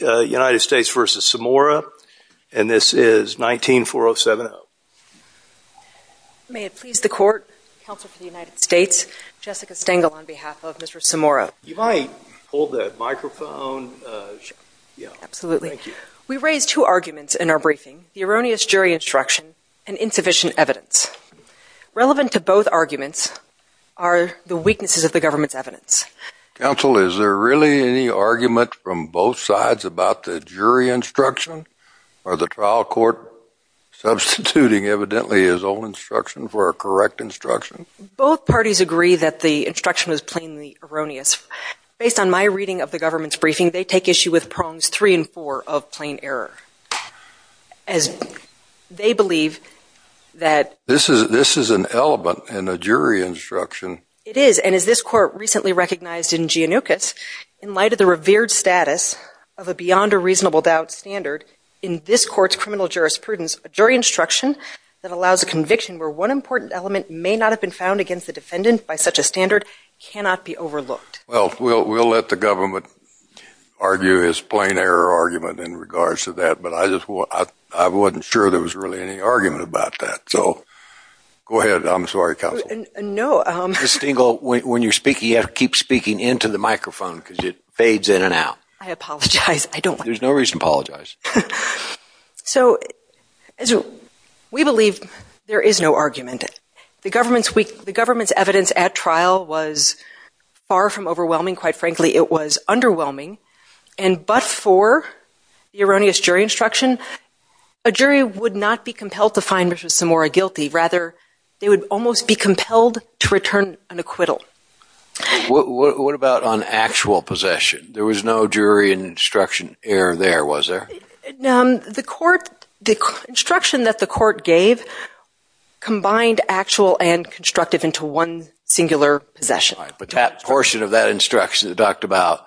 United States v. Samora and this is 19-407-0. May it please the court, counsel for the United States, Jessica Stengel on behalf of Mr. Samora. You mind if I hold the microphone? Absolutely. We raised two arguments in our briefing. The erroneous jury instruction and insufficient evidence. Counsel, is there really any argument from both sides about the jury instruction or the trial court substituting evidently his own instruction for a correct instruction? Both parties agree that the instruction is plainly erroneous. Based on my reading of the government's briefing, they take issue with prongs three and four of plain error. As they believe that... This is an element in a jury instruction. It is, and as this court recently recognized in Giannoukis, in light of the revered status of a beyond a reasonable doubt standard, in this court's criminal jurisprudence, a jury instruction that allows a conviction where one important element may not have been found against the defendant by such a standard cannot be overlooked. Well, we'll let the government argue his plain error argument in regards to that, but I just wasn't sure there was really any argument about that. So, go ahead. I'm sorry, counsel. Ms. Stengel, when you're speaking, you have to keep speaking into the microphone because it fades in and out. I apologize. I don't want to... There's no reason to apologize. So, we believe there is no argument. The government's evidence at trial was far from overwhelming. Quite frankly, it was underwhelming. And but for the erroneous jury instruction, a jury would not be compelled to find Mr. Samora guilty. Rather, they would almost be compelled to return an acquittal. What about on actual possession? There was no jury instruction error there, was there? The court, the instruction that the court gave combined actual and constructive into one singular possession. But that portion of that instruction that talked about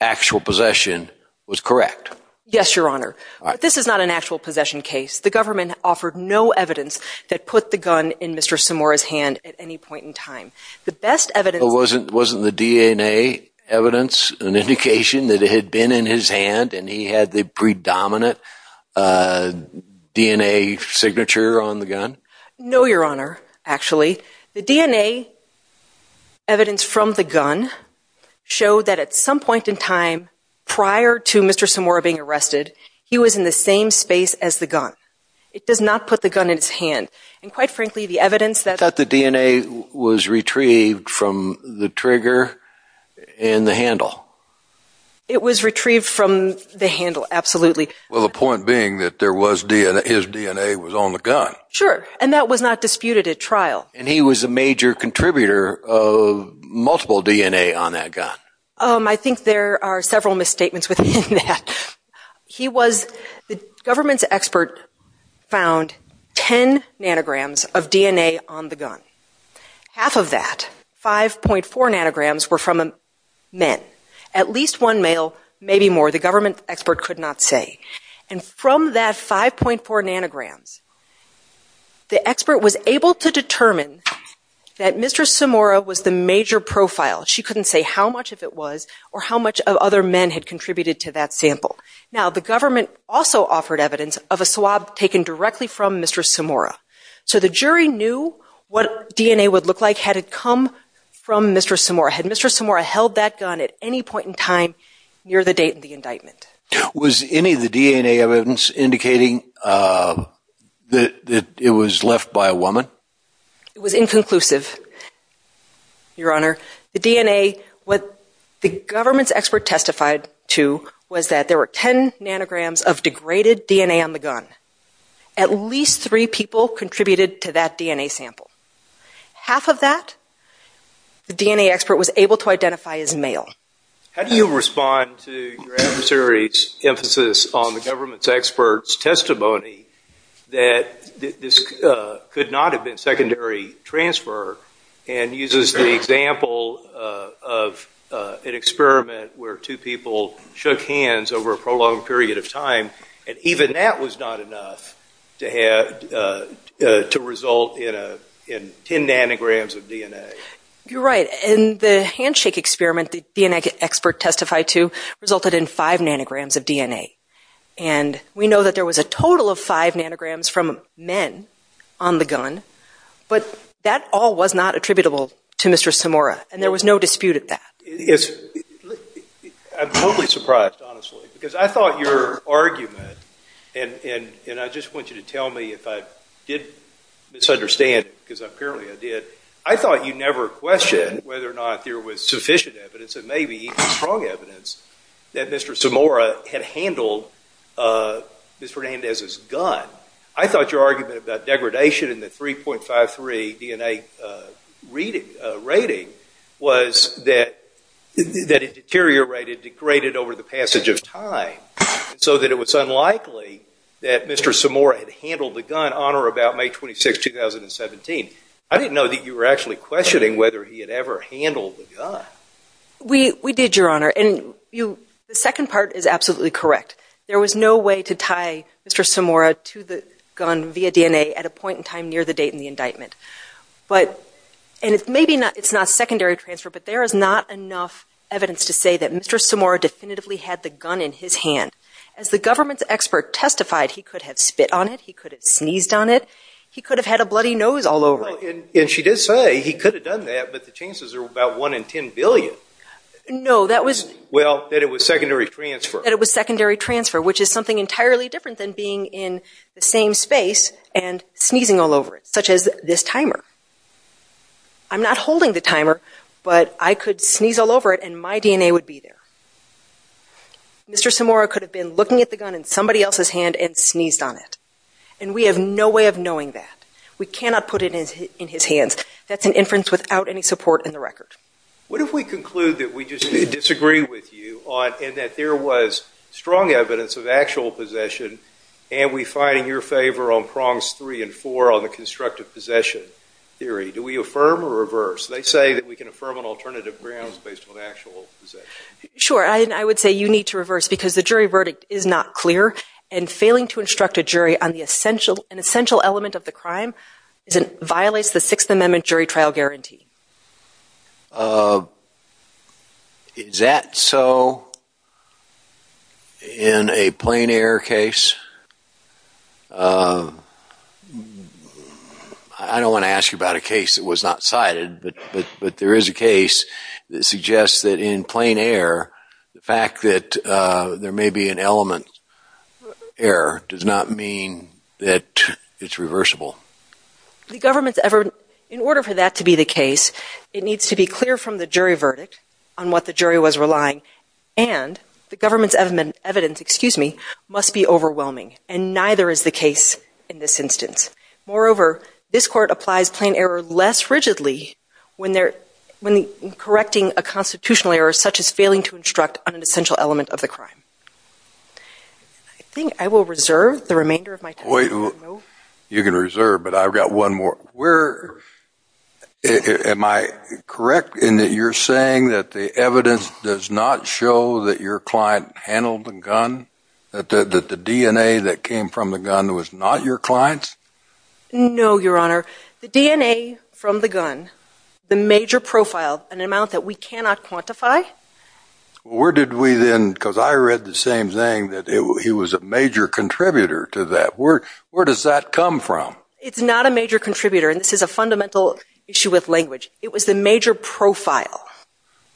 actual possession was correct. Yes, Your Honor. This is not an actual possession case. The government offered no evidence that put the gun in Mr. Samora's hand at any point in time. The best evidence... Wasn't the DNA evidence an indication that it had been in his hand and he had the predominant DNA signature on the gun? No, Your Honor, actually. The DNA evidence from the gun showed that at some point in time prior to Mr. Samora being arrested, he was in the same space as the gun. It does not put the gun in his hand. And quite frankly, the evidence that... You thought the DNA was retrieved from the trigger and the handle? It was retrieved from the handle, absolutely. Well, the point being that there was DNA, his DNA was on the gun. Sure. And that was not disputed at trial. And he was a major contributor of multiple DNA on that gun. I think there are several misstatements within that. He was... The government's expert found 10 nanograms of DNA on the gun. Half of that, 5.4 nanograms, were from a man. At least one male, maybe more. The government expert could not say. And from that 5.4 nanograms, the expert was able to determine that Mr. Samora was the major profile. She couldn't say how much of it was or how much of other men had contributed to that sample. Now, the government also offered evidence of a swab taken directly from Mr. Samora. So the jury knew what DNA would look like had it come from Mr. Samora, had Mr. Samora held that gun at any point in time near the date of the indictment. Was any of the DNA evidence indicating that it was left by a woman? It was inconclusive, Your Honor. The DNA... What the government's expert testified to was that there were 10 nanograms of degraded DNA on the gun. At least three people contributed to that DNA sample. Half of that, the DNA expert was able to identify as male. How do you respond to your adversary's emphasis on the government's expert's testimony that this could not have been secondary transfer and uses the example of an experiment where two people shook hands over a prolonged period of time, and even that was not enough to result in 10 nanograms of DNA? You're right. In the handshake experiment, the DNA expert testified to resulted in 5 nanograms of DNA. And we know that there was a total of 5 nanograms from men on the gun, but that all was not attributable to Mr. Samora, and there was no dispute at that. I'm totally surprised, honestly, because I thought your argument, and I just want you to tell me if I did misunderstand, because apparently I did, I thought you never questioned whether or not there was sufficient evidence, and maybe even strong evidence, that Mr. Samora had handled Ms. Fernandez's gun. I thought your argument about degradation in the 3.53 DNA rating was that it deteriorated, degraded over the passage of time, so that it was unlikely that Mr. Samora had handled the gun on or about May 26, 2017. I didn't know that you were actually questioning whether he had ever handled the gun. We did, Your Honor, and the second part is absolutely correct. There was no way to tie Mr. Samora to the gun via DNA at a point in time near the date in the indictment. But, and it's maybe not secondary transfer, but there is not enough evidence to say that Mr. Samora definitively had the gun in his hand. As the government's expert testified, he could have spit on it, he could have sneezed on it, he could have had a bloody nose all over him. And she did say he could have done that, but the chances are about 1 in 10 billion. No, that was... Well, that it was secondary transfer. That it was secondary transfer, which is something entirely different than being in the same space and sneezing all over it, such as this timer. I'm not holding the timer, but I could sneeze all over it and my DNA would be there. Mr. Samora could have been looking at the gun in somebody else's hand and sneezed on it. And we have no way of knowing that. We cannot put it in his hands. That's an inference without any support in the record. What if we conclude that we just disagree with you on... and that there was strong evidence of actual possession, and we find in your favor on prongs three and four on the constructive possession theory? Do we affirm or reverse? They say that we can affirm on alternative grounds based on actual possession. Sure, and I would say you need to reverse because the jury verdict is not clear. And failing to instruct a jury on an essential element of the crime violates the Sixth Amendment jury trial guarantee. Is that so in a plain air case? I don't want to ask you about a case that was not cited, but there is a case that suggests that in plain air, the fact that there may be an element error does not mean that it's reversible. In order for that to be the case, it needs to be clear from the jury verdict on what the jury was relying, and the government's evidence must be overwhelming. And neither is the case in this instance. Moreover, this court applies plain error less rigidly when correcting a constitutional error such as failing to instruct on an essential element of the crime. I think I will reserve the remainder of my time. You can reserve, but I've got one more. Am I correct in that you're saying that the evidence does not show that your client handled the gun? That the DNA that came from the gun was not your client's? No, Your Honor. The DNA from the gun, the major profile, an amount that we cannot quantify. Where did we then, because I read the same thing, that he was a major contributor to that. Where does that come from? It's not a major contributor, and this is a fundamental issue with language. It was the major profile.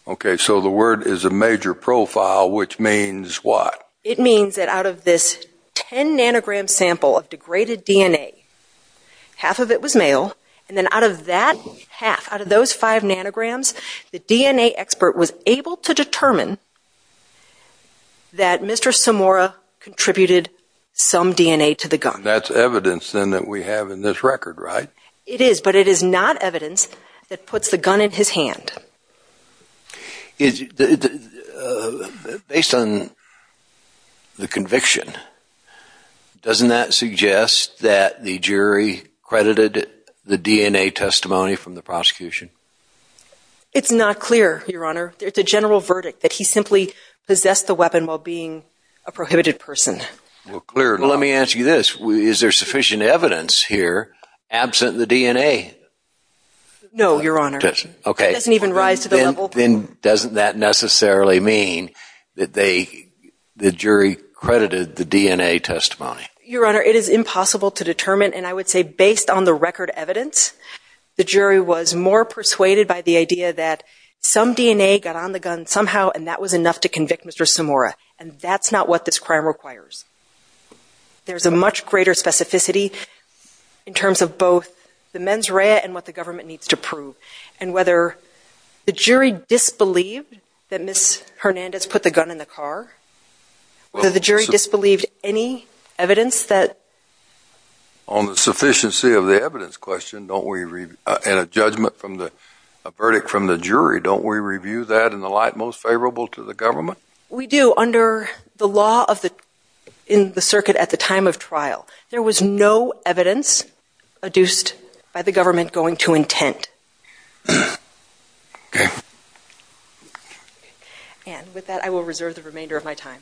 Okay, so the word is a major profile, which means what? It means that out of this 10 nanogram sample of degraded DNA, half of it was male, and then out of that half, out of those 5 nanograms, the DNA expert was able to determine that Mr. Samora contributed some DNA to the gun. That's evidence then that we have in this record, right? It is, but it is not evidence that puts the gun in his hand. Based on the conviction, doesn't that suggest that the jury credited the DNA testimony from the prosecution? It's not clear, Your Honor. It's a general verdict that he simply possessed the weapon while being a prohibited person. Well, let me ask you this. Is there sufficient evidence here absent the DNA? No, Your Honor. It doesn't even rise to the level. Then doesn't that necessarily mean that the jury credited the DNA testimony? Your Honor, it is impossible to determine, and I would say based on the record evidence, the jury was more persuaded by the idea that some DNA got on the gun somehow, and that was enough to convict Mr. Samora, and that's not what this crime requires. There's a much greater specificity in terms of both the mens rea and what the government needs to prove, and whether the jury disbelieved that Ms. Hernandez put the gun in the car, whether the jury disbelieved any evidence that... On the sufficiency of the evidence question, don't we... and a judgment from the... a verdict from the jury, don't we review that in the light most favorable to the government? We do under the law of the... in the circuit at the time of trial. There was no evidence adduced by the government going to intent. Okay. And with that, I will reserve the remainder of my time.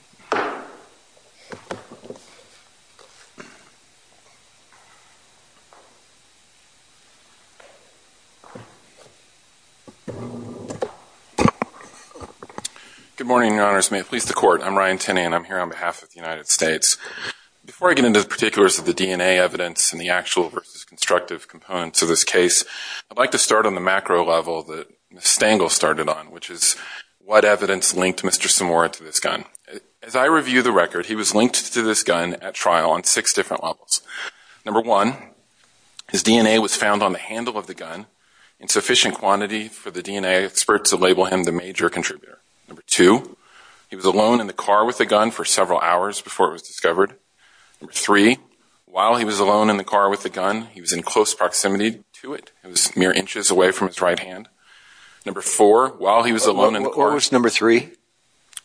Good morning, Your Honors. May it please the Court. I'm Ryan Tinney, and I'm here on behalf of the United States. Before I get into the particulars of the DNA evidence and the actual versus constructive components of this case, I'd like to start on the macro level that Ms. Stangle started on, which is what evidence linked Mr. Samora to this gun. As I understand it, Mr. Samora had a gun. As I review the record, he was linked to this gun at trial on six different levels. Number one, his DNA was found on the handle of the gun in sufficient quantity for the DNA experts to label him the major contributor. Number two, he was alone in the car with the gun for several hours before it was discovered. Number three, while he was alone in the car with the gun, he was in close proximity to it. It was mere inches away from his right hand. Number four, while he was alone in the car... What was number three?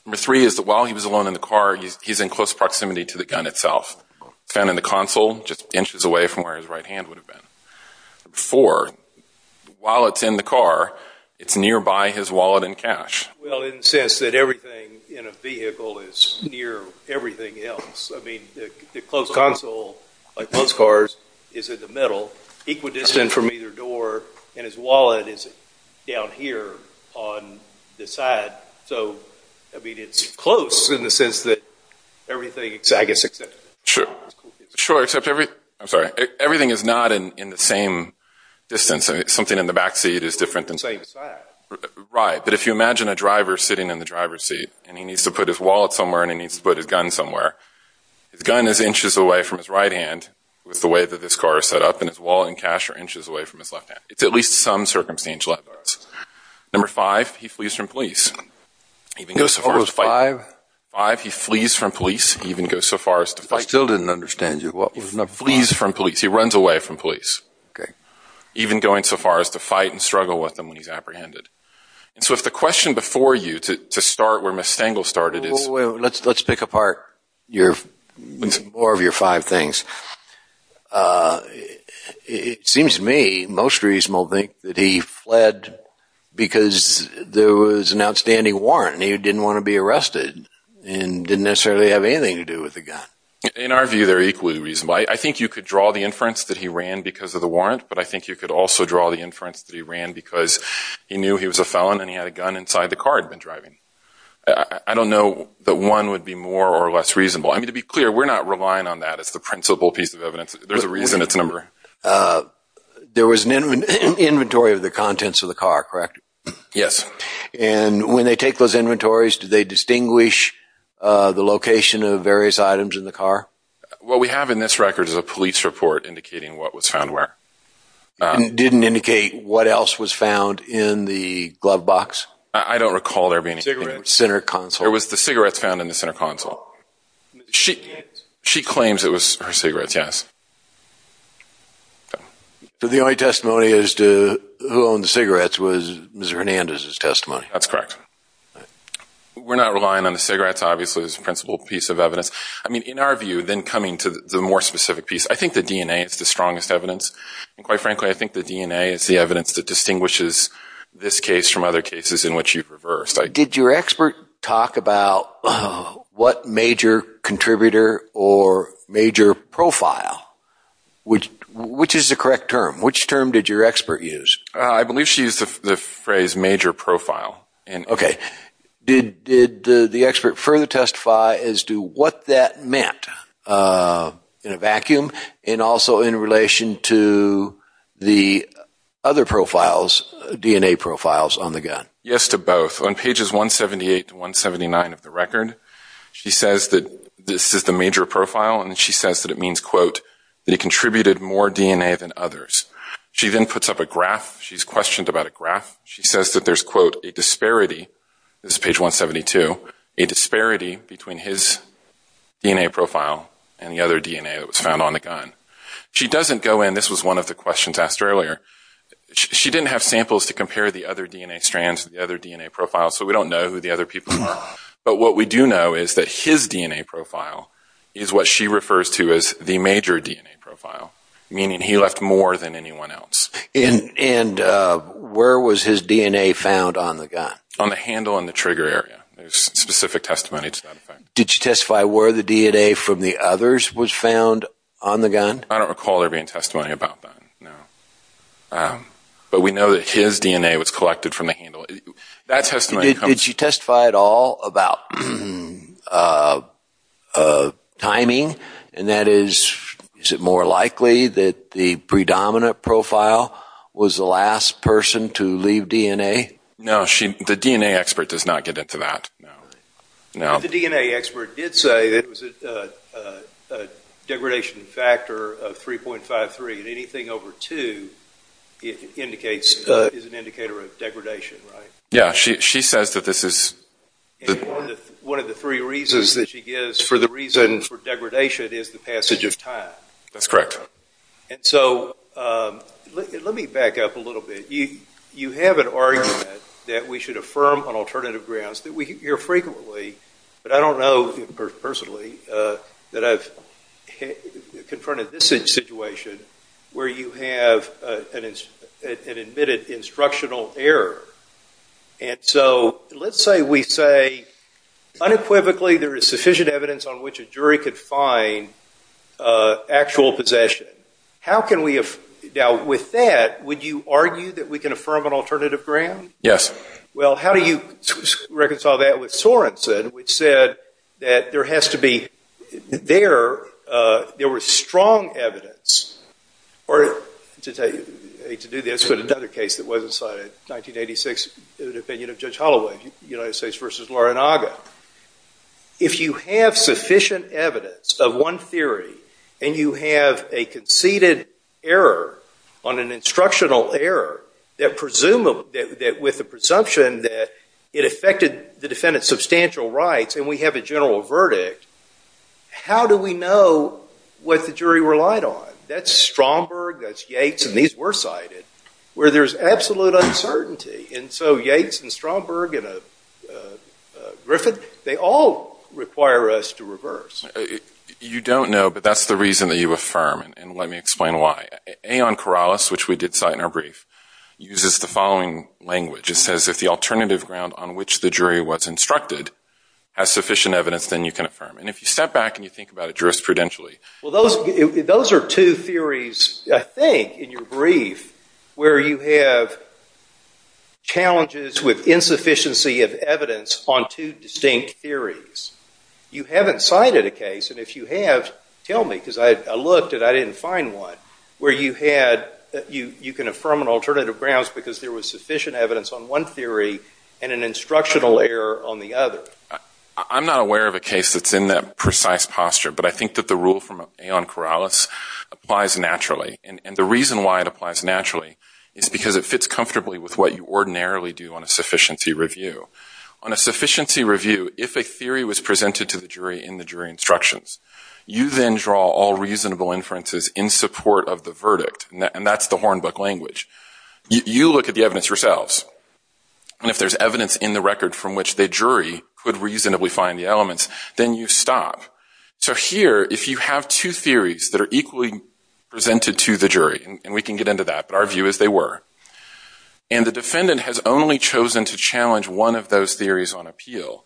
Number three is that while he was alone in the car, he's in close proximity to the gun itself. It's found in the console, just inches away from where his right hand would have been. Number four, while it's in the car, it's nearby his wallet and cash. Well, in the sense that everything in a vehicle is near everything else. I mean, the close console, like most cars, is in the middle, equidistant from either door, and his wallet is down here on the side. So, I mean, it's close in the sense that everything... I guess, except... Sure, except everything... I'm sorry. Everything is not in the same distance. Something in the back seat is different than... Same side. Right, but if you imagine a driver sitting in the driver's seat, and he needs to put his wallet somewhere, and he needs to put his gun somewhere, his gun is inches away from his right hand, with the way that this car is set up, and his wallet and cash are inches away from his left hand. It's at least some circumstantial evidence. Number five, he flees from police, even goes so far as to fight... What was five? Five, he flees from police, even goes so far as to fight... I still didn't understand you. What was number five? He flees from police. He runs away from police. Okay. Even going so far as to fight and struggle with them when he's apprehended. And so if the question before you, to start where Ms. Stengel started is... Well, let's pick apart more of your five things. It seems to me most reasonable to think that he fled because there was an outstanding warrant and he didn't want to be arrested and didn't necessarily have anything to do with the gun. In our view, they're equally reasonable. I think you could draw the inference that he ran because of the warrant, but I think you could also draw the inference that he ran because he knew he was a felon and he had a gun inside the car he'd been driving. I don't know that one would be more or less reasonable. I mean, to be clear, we're not relying on that as the principal piece of evidence. There's a reason it's a number. There was an inventory of the contents of the car, correct? Yes. And when they take those inventories, do they distinguish the location of various items in the car? What we have in this record is a police report indicating what was found where. It didn't indicate what else was found in the glove box? I don't recall there being anything. Cigarette. Center console. There was the cigarettes found in the center console. She claims it was her cigarettes, yes. The only testimony as to who owned the cigarettes was Mr. Hernandez's testimony. That's correct. We're not relying on the cigarettes, obviously, as the principal piece of evidence. I mean, in our view, then coming to the more specific piece, I think the DNA is the strongest evidence, and quite frankly I think the DNA is the evidence that distinguishes this case from other cases in which you've reversed. Did your expert talk about what major contributor or major profile? Which is the correct term? Which term did your expert use? I believe she used the phrase major profile. Okay. Did the expert further testify as to what that meant in a vacuum and also in relation to the other profiles, DNA profiles on the gun? Yes to both. On pages 178 to 179 of the record, she says that this is the major profile, and she says that it means, quote, that it contributed more DNA than others. She then puts up a graph. She's questioned about a graph. She says that there's, quote, a disparity. This is page 172. A disparity between his DNA profile and the other DNA that was found on the gun. She doesn't go in. This was one of the questions asked earlier. She didn't have samples to compare the other DNA strands, the other DNA profiles, so we don't know who the other people are. But what we do know is that his DNA profile is what she refers to as the major DNA profile, meaning he left more than anyone else. And where was his DNA found on the gun? On the handle and the trigger area. There's specific testimony to that. Did she testify where the DNA from the others was found on the gun? I don't recall there being testimony about that, no. But we know that his DNA was collected from the handle. Did she testify at all about timing, and that is, is it more likely that the predominant profile was the last person to leave DNA? No, the DNA expert does not get into that, no. The DNA expert did say that it was a degradation factor of 3.53, and anything over 2 is an indicator of degradation, right? Yeah. She says that this is... And one of the three reasons that she gives for the reason for degradation is the passage of time. That's correct. And so let me back up a little bit. You have an argument that we should affirm on alternative grounds that we hear frequently, but I don't know personally, that I've confronted this situation where you have an admitted instructional error. And so let's say we say, unequivocally, there is sufficient evidence on which a jury could find actual possession. Now, with that, would you argue that we can affirm on alternative grounds? Yes. Well, how do you reconcile that with Sorenson, which said that there has to be... There was strong evidence... I hate to do this, but another case that wasn't cited, 1986, the opinion of Judge Holloway, United States v. Laranaga. If you have sufficient evidence of one theory, and you have a conceded error on an instructional error with the presumption that it affected the defendant's substantial rights, and we have a general verdict, how do we know what the jury relied on? That's Stromberg, that's Yates, and these were cited, where there's absolute uncertainty. And so Yates and Stromberg and Griffith, they all require us to reverse. You don't know, but that's the reason that you affirm, and let me explain why. Aeon Corrales, which we did cite in our brief, uses the following language. It says if the alternative ground on which the jury was instructed has sufficient evidence, then you can affirm. And if you step back and you think about it jurisprudentially... Well, those are two theories, I think, in your brief, where you have challenges with insufficiency of evidence on two distinct theories. You haven't cited a case, and if you have, tell me, because I looked and I didn't find one, where you can affirm on alternative grounds because there was sufficient evidence on one theory and an instructional error on the other. I'm not aware of a case that's in that precise posture, but I think that the rule from Aeon Corrales applies naturally. And the reason why it applies naturally is because it fits comfortably with what you ordinarily do on a sufficiency review. On a sufficiency review, if a theory was presented to the jury in the jury instructions, you then draw all reasonable inferences in support of the verdict, and that's the Hornbuck language. You look at the evidence yourselves, and if there's evidence in the record from which the jury could reasonably find the elements, then you stop. So here, if you have two theories that are equally presented to the jury, and we can get into that, but our view is they were, and the defendant has only chosen to challenge one of those theories on appeal,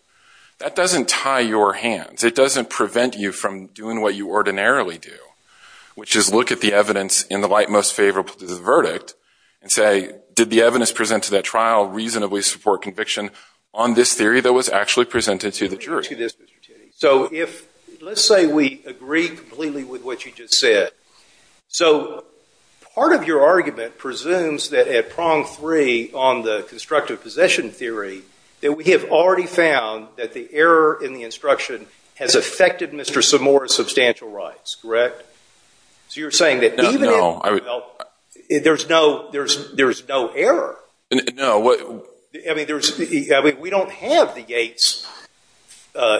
that doesn't tie your hands. It doesn't prevent you from doing what you ordinarily do, which is look at the evidence in the light most favorable to the verdict and say, did the evidence presented to that trial reasonably support conviction on this theory that was actually presented to the jury? Let me ask you this, Mr. Tiddy. So let's say we agree completely with what you just said. So part of your argument presumes that at prong three on the constructive possession theory that we have already found that the error in the instruction has affected Mr. Samora's substantial rights, correct? So you're saying that even in the development, there's no error. No. I mean, we don't have the Yates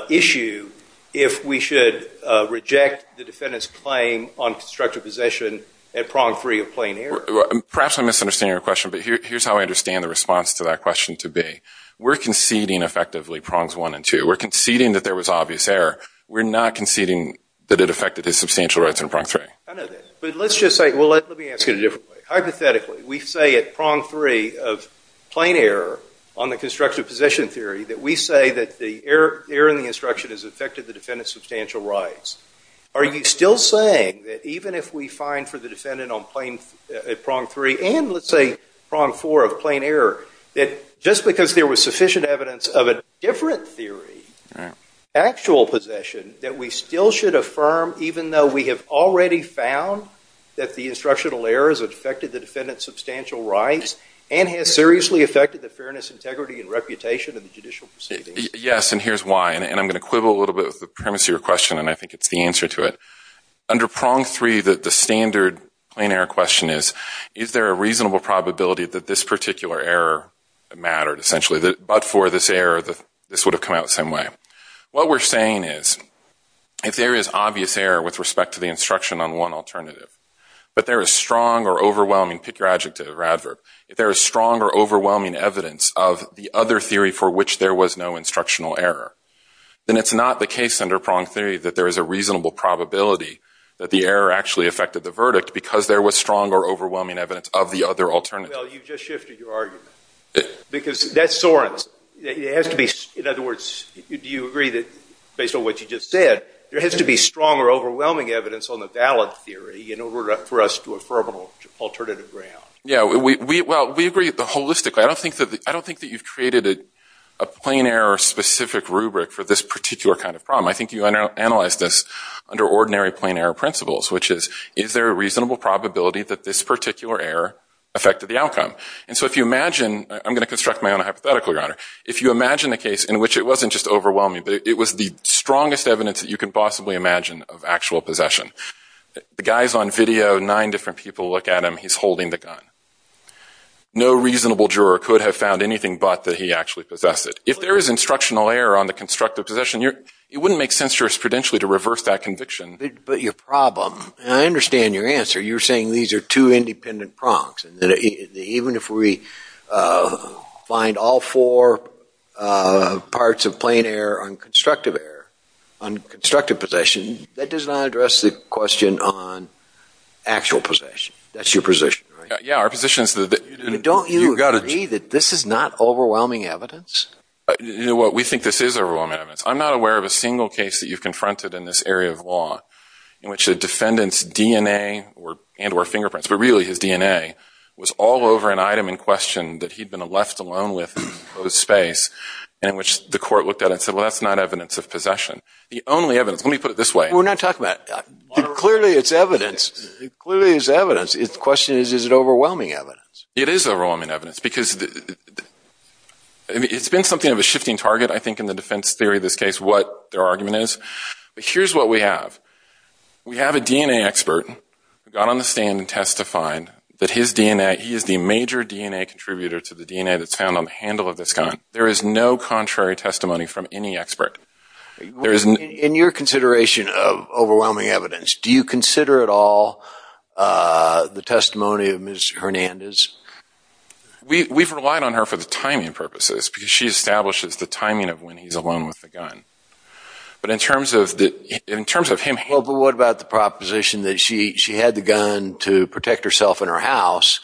issue if we should reject the defendant's claim on constructive possession at prong three of plain error. Perhaps I'm misunderstanding your question, but here's how I understand the response to that question to be. We're conceding effectively prongs one and two. We're conceding that there was obvious error. We're not conceding that it affected his substantial rights in prong three. I know that. But let's just say – well, let me ask it a different way. Hypothetically, we say at prong three of plain error on the constructive position theory that we say that the error in the instruction has affected the defendant's substantial rights. Are you still saying that even if we find for the defendant on plain – at prong three and let's say prong four of plain error that just because there was sufficient evidence of a different theory, actual possession, that we still should affirm even though we have already found that the instructional error has affected the defendant's substantial rights and has seriously affected the fairness, integrity, and reputation of the judicial proceedings? Yes, and here's why. And I'm going to quibble a little bit with the premise of your question, and I think it's the answer to it. Under prong three, the standard plain error question is, is there a reasonable probability that this particular error mattered essentially, but for this error this would have come out the same way? What we're saying is if there is obvious error with respect to the instruction on one alternative, but there is strong or overwhelming – pick your adjective or adverb – if there is strong or overwhelming evidence of the other theory for which there was no instructional error, then it's not the case under prong three that there is a reasonable probability that the error actually affected the verdict because there was strong or overwhelming evidence of the other alternative. Well, you just shifted your argument because that's Soren's. It has to be – in other words, do you agree that based on what you just said, there has to be strong or overwhelming evidence on the valid theory in order for us to affirm an alternative ground? Yeah, well, we agree holistically. I don't think that you've created a plain error-specific rubric for this particular kind of problem. I think you analyzed this under ordinary plain error principles, which is, is there a reasonable probability that this particular error affected the outcome? And so if you imagine – I'm going to construct my own hypothetical, Your Honor – if you imagine a case in which it wasn't just overwhelming, but it was the strongest evidence that you could possibly imagine of actual possession. The guy's on video, nine different people look at him, he's holding the gun. No reasonable juror could have found anything but that he actually possessed it. If there is instructional error on the constructive possession, it wouldn't make sense jurisprudentially to reverse that conviction. But your problem – and I understand your answer. You're saying these are two independent prongs, and that even if we find all four parts of plain error on constructive error, on constructive possession, that does not address the question on actual possession. That's your position, right? Yeah, our position is that – Don't you agree that this is not overwhelming evidence? You know what, we think this is overwhelming evidence. I'm not aware of a single case that you've confronted in this area of law in which a defendant's DNA and or fingerprints, but really his DNA, was all over an item in question that he'd been left alone with in a closed space, and in which the court looked at it and said, well, that's not evidence of possession. The only evidence – let me put it this way. We're not talking about – clearly it's evidence. Clearly it's evidence. The question is, is it overwhelming evidence? It is overwhelming evidence because it's been something of a shifting target, I think, in the defense theory of this case, what their argument is. But here's what we have. We have a DNA expert who got on the stand and testified that his DNA – he is the major DNA contributor to the DNA that's found on the handle of this gun. There is no contrary testimony from any expert. In your consideration of overwhelming evidence, do you consider at all the testimony of Ms. Hernandez? We've relied on her for the timing purposes because she establishes the timing of when he's alone with the gun. But in terms of him – Well, but what about the proposition that she had the gun to protect herself in her house,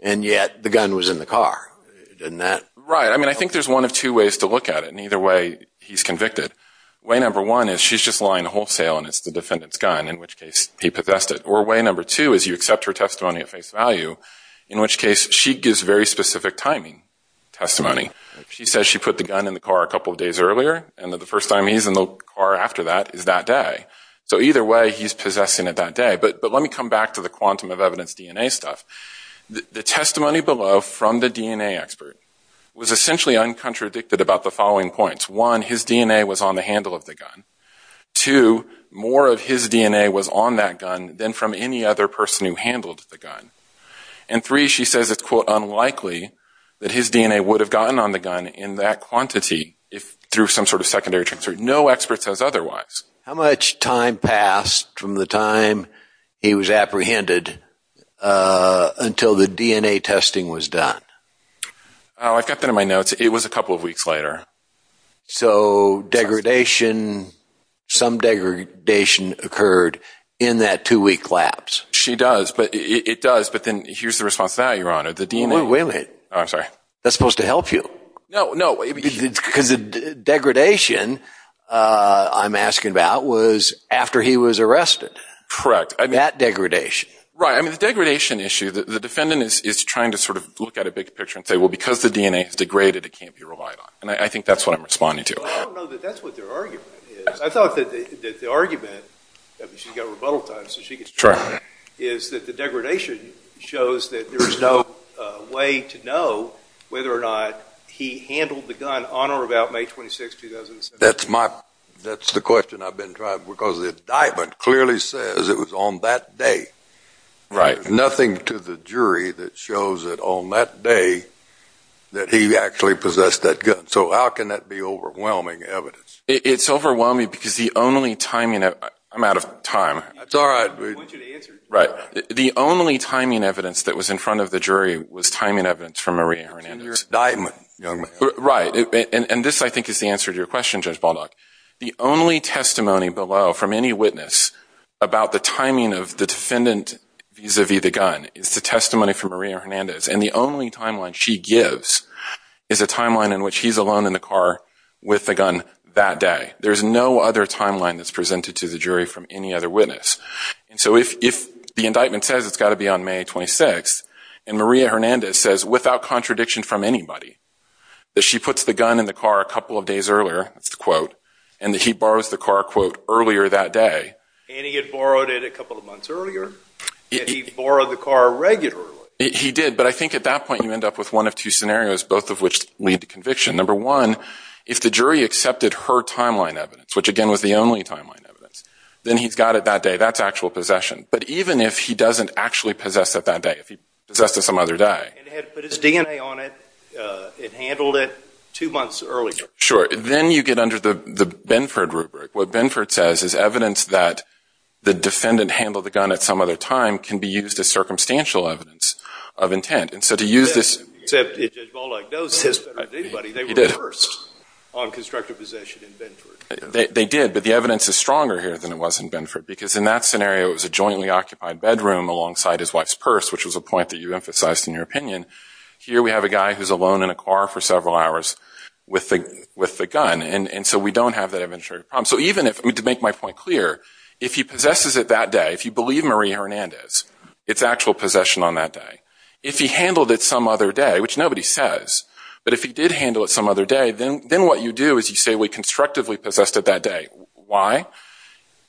and yet the gun was in the car? Right. I mean, I think there's one of two ways to look at it. In either way, he's convicted. Way number one is she's just lying wholesale and it's the defendant's gun, in which case he possessed it. Or way number two is you accept her testimony at face value, in which case she gives very specific timing testimony. She says she put the gun in the car a couple of days earlier, and that the first time he's in the car after that is that day. So either way, he's possessing it that day. But let me come back to the quantum of evidence DNA stuff. The testimony below from the DNA expert was essentially uncontradicted about the following points. One, his DNA was on the handle of the gun. Two, more of his DNA was on that gun than from any other person who handled the gun. And three, she says it's, quote, unlikely that his DNA would have gotten on the gun in that quantity through some sort of secondary transfer. No expert says otherwise. How much time passed from the time he was apprehended until the DNA testing was done? I've got that in my notes. It was a couple of weeks later. So degradation, some degradation occurred in that two-week lapse. She does. It does. But then here's the response to that, Your Honor. The DNA. Wait a minute. Oh, I'm sorry. That's supposed to help you. No, no. Because the degradation I'm asking about was after he was arrested. Correct. That degradation. Right. I mean, the degradation issue, the defendant is trying to sort of look at a big picture and say, well, because the DNA is degraded, it can't be relied on. And I think that's what I'm responding to. I don't know that that's what their argument is. I thought that the argument, I mean, she's got rebuttal time, so she gets to try, is that the degradation shows that there is no way to know whether or not he handled the gun on or about May 26, 2007. That's the question I've been trying, because the indictment clearly says it was on that day. Right. Nothing to the jury that shows that on that day that he actually possessed that gun. So how can that be overwhelming evidence? It's overwhelming because the only timing, I'm out of time. That's all right. I want you to answer. Right. The only timing evidence that was in front of the jury was timing evidence from Maria Hernandez. It's in your indictment, young man. Right. And this, I think, is the answer to your question, Judge Baldock. The only testimony below from any witness about the timing of the defendant vis-à-vis the gun is the testimony from Maria Hernandez, and the only timeline she gives is a timeline in which he's alone in the car with the gun that day. There's no other timeline that's presented to the jury from any other witness. And so if the indictment says it's got to be on May 26th, and Maria Hernandez says, without contradiction from anybody, that she puts the gun in the car a couple of days earlier, that's the quote, and that he borrows the car, quote, earlier that day. And he had borrowed it a couple of months earlier, and he borrowed the car regularly. He did. But I think at that point you end up with one of two scenarios, both of which lead to conviction. Number one, if the jury accepted her timeline evidence, which again was the only timeline evidence, then he's got it that day. That's actual possession. But even if he doesn't actually possess it that day, if he possessed it some other day. And had put his DNA on it and handled it two months earlier. Sure. Then you get under the Benford rubric. What Benford says is evidence that the defendant handled the gun at some other time can be used as circumstantial evidence of intent. And so to use this. Except Judge Volokh knows this better than anybody. He did. They reversed on constructive possession in Benford. They did. But the evidence is stronger here than it was in Benford. Because in that scenario, it was a jointly occupied bedroom alongside his wife's purse, which was a point that you emphasized in your opinion. Here we have a guy who's alone in a car for several hours with the gun. And so we don't have that evidentiary problem. So even if, to make my point clear, if he possesses it that day, if you believe Marie Hernandez, it's actual possession on that day. If he handled it some other day, which nobody says. But if he did handle it some other day, then what you do is you say we constructively possessed it that day. Why?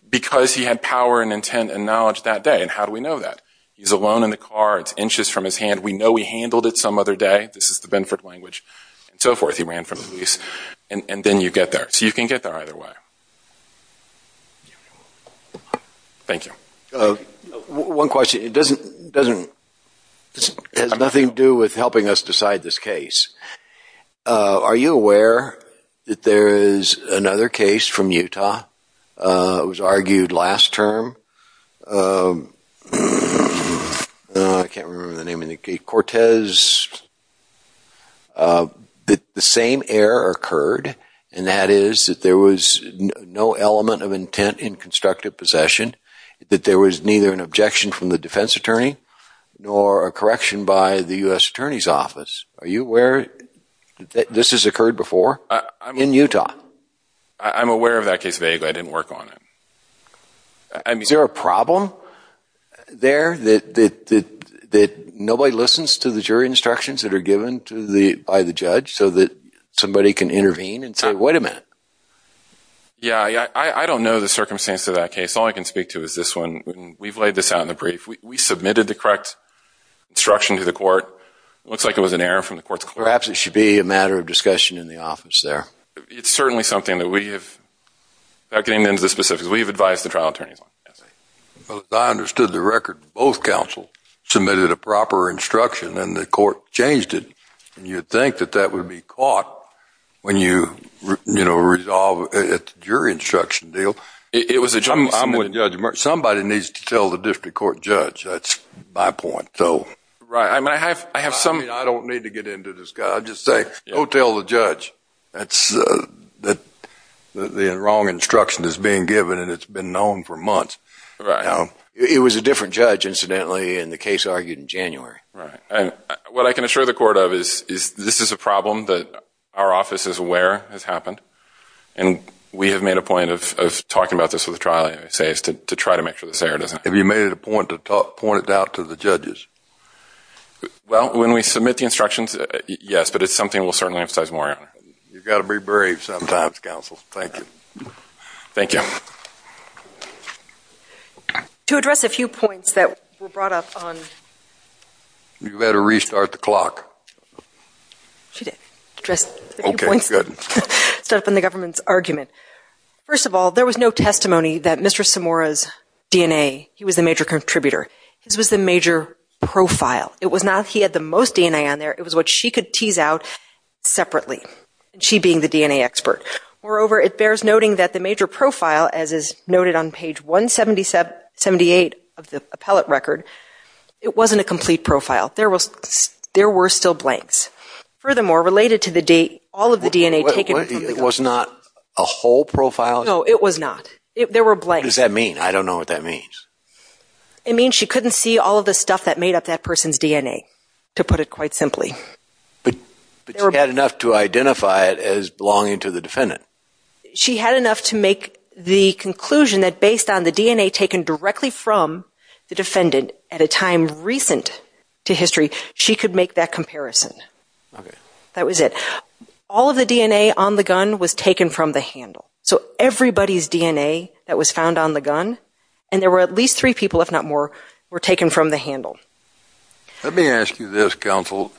Because he had power and intent and knowledge that day. And how do we know that? He's alone in the car. It's inches from his hand. We know he handled it some other day. This is the Benford language. And so forth. He ran from the police. And then you get there. So you can get there either way. Thank you. One question. It has nothing to do with helping us decide this case. Are you aware that there is another case from Utah that was argued last term? I can't remember the name of the case. Cortez, the same error occurred. And that is that there was no element of intent in constructive possession. That there was neither an objection from the defense attorney nor a correction by the U.S. Attorney's Office. Are you aware that this has occurred before in Utah? I'm aware of that case vaguely. I didn't work on it. Is there a problem there that nobody listens to the jury instructions that are given by the judge so that somebody can intervene and say, wait a minute? Yeah. I don't know the circumstance of that case. All I can speak to is this one. We've laid this out in the brief. We submitted the correct instruction to the court. It looks like it was an error from the court's court. Perhaps it should be a matter of discussion in the office there. It's certainly something that we have, getting into the specifics, we've advised the trial attorneys on. I understood the record. Both counsel submitted a proper instruction and the court changed it. And you'd think that that would be caught when you, you know, resolve at the jury instruction deal. It was somebody needs to tell the district court judge. That's my point. So, right. I mean, I have, I have some, I don't need to get into this guy. I'll just say, go tell the judge. That's that the wrong instruction is being given and it's been known for months. It was a different judge incidentally, and the case argued in January. Right. And what I can assure the court of is, is this is a problem that our office is aware has happened. And we have made a point of, of talking about this with the trial. And I say is to try to make sure that Sarah doesn't, if you made it a point to talk pointed out to the judges. Well, when we submit the instructions, yes, but it's something we'll certainly emphasize more. You've got to be brave sometimes. Counsel. Thank you. Thank you. To address a few points that were brought up on. You better restart the clock. She did dress. Okay. Good stuff in the government's argument. First of all, there was no testimony that Mr. Samaras DNA. He was the major contributor. His was the major profile. It was not, he had the most DNA on there. It was what she could tease out separately. She being the DNA expert. Moreover, it bears noting that the major profile, as is noted on page 177, 78 of the appellate record, it wasn't a complete profile. There was, there were still blanks. Furthermore, related to the date, all of the DNA taken. It was not a whole profile. No, it was not. There were blanks. What does that mean? I don't know what that means. It means she couldn't see all of the stuff that made up that person's DNA. To put it quite simply. But she had enough to identify it as belonging to the defendant. She had enough to make the conclusion that based on the DNA taken directly from the defendant at a time recent to history, she could make that comparison. Okay. That was it. All of the DNA on the gun was taken from the handle. So everybody's DNA that was found on the gun, and there were at least three people, if not more, were taken from the handle. Let me ask you this, Counsel.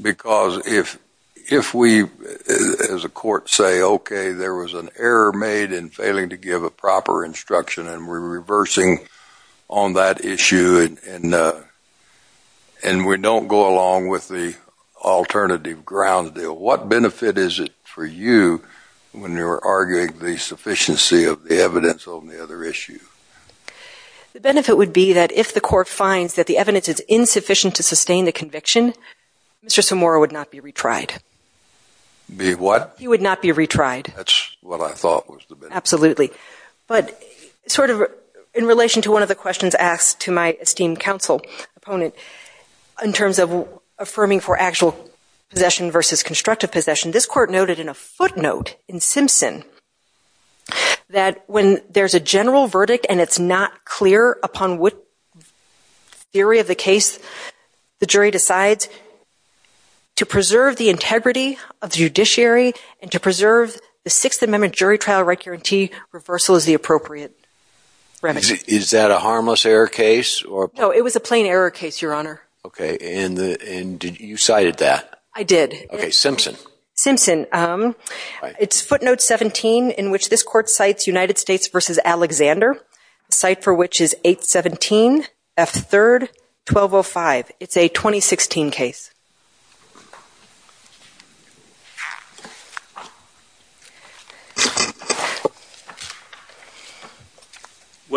Because if we, as a court, say, okay, there was an error made in failing to give a proper instruction, and we're reversing on that issue, and we don't go along with the alternative grounds deal, what benefit is it for you when you're arguing the sufficiency of the evidence on the other issue? The benefit would be that if the court finds that the evidence is insufficient to sustain the conviction, Mr. Samora would not be retried. Be what? He would not be retried. That's what I thought was the benefit. Absolutely. But sort of in relation to one of the questions asked to my esteemed counsel, opponent, in terms of affirming for actual possession versus constructive possession, this court noted in a footnote in Simpson that when there's a general verdict and it's not clear upon what theory of the case, the jury decides to preserve the integrity of the judiciary and to preserve the Sixth Amendment jury trial right guarantee, reversal is the appropriate remedy. Is that a harmless error case? No, it was a plain error case, Your Honor. Okay. And you cited that? I did. Okay. Simpson. Simpson. It's footnote 17 in which this court cites United States versus Alexander. The site for which is 817 F third 1205. It's a 2016 case.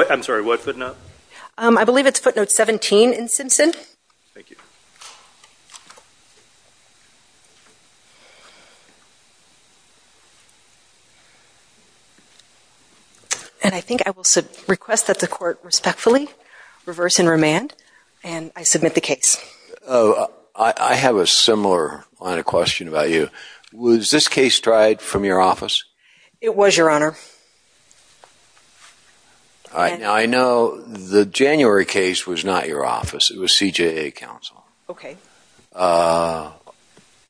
I'm sorry. What footnote? I believe it's footnote 17 in Simpson. Thank you. And I think I will request that the court respectfully reverse and remand, and I submit the case. Oh, I have a similar line of question about you. Was this case tried from your office? It was, Your Honor. All right. Now I know the January case was not your office. It was CJA council. Okay. Uh,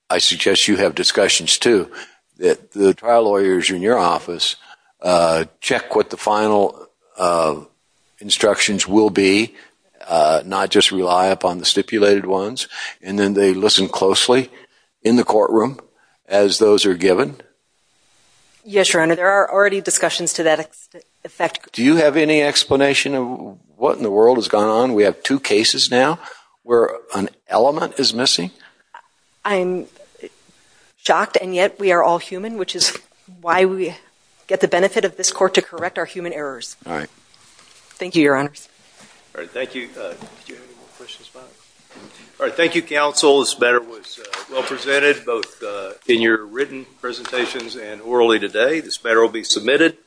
I suggest you have discussions too. That the trial lawyers in your office, uh, check what the final, uh, instructions will be, uh, not just rely upon the stipulated ones. And then they listen closely in the courtroom as those are given. Yes, Your Honor. There are already discussions to that effect. Do you have any explanation of what in the world has gone on? We have two cases now where an element is missing. I'm shocked. And yet we are all human, which is why we get the benefit of this court to correct our human errors. All right. Thank you, Your Honor. All right. Thank you. Uh, all right. Thank you. Council is better. It was well presented both, uh, in your written presentations and orally today, this better will be submitted.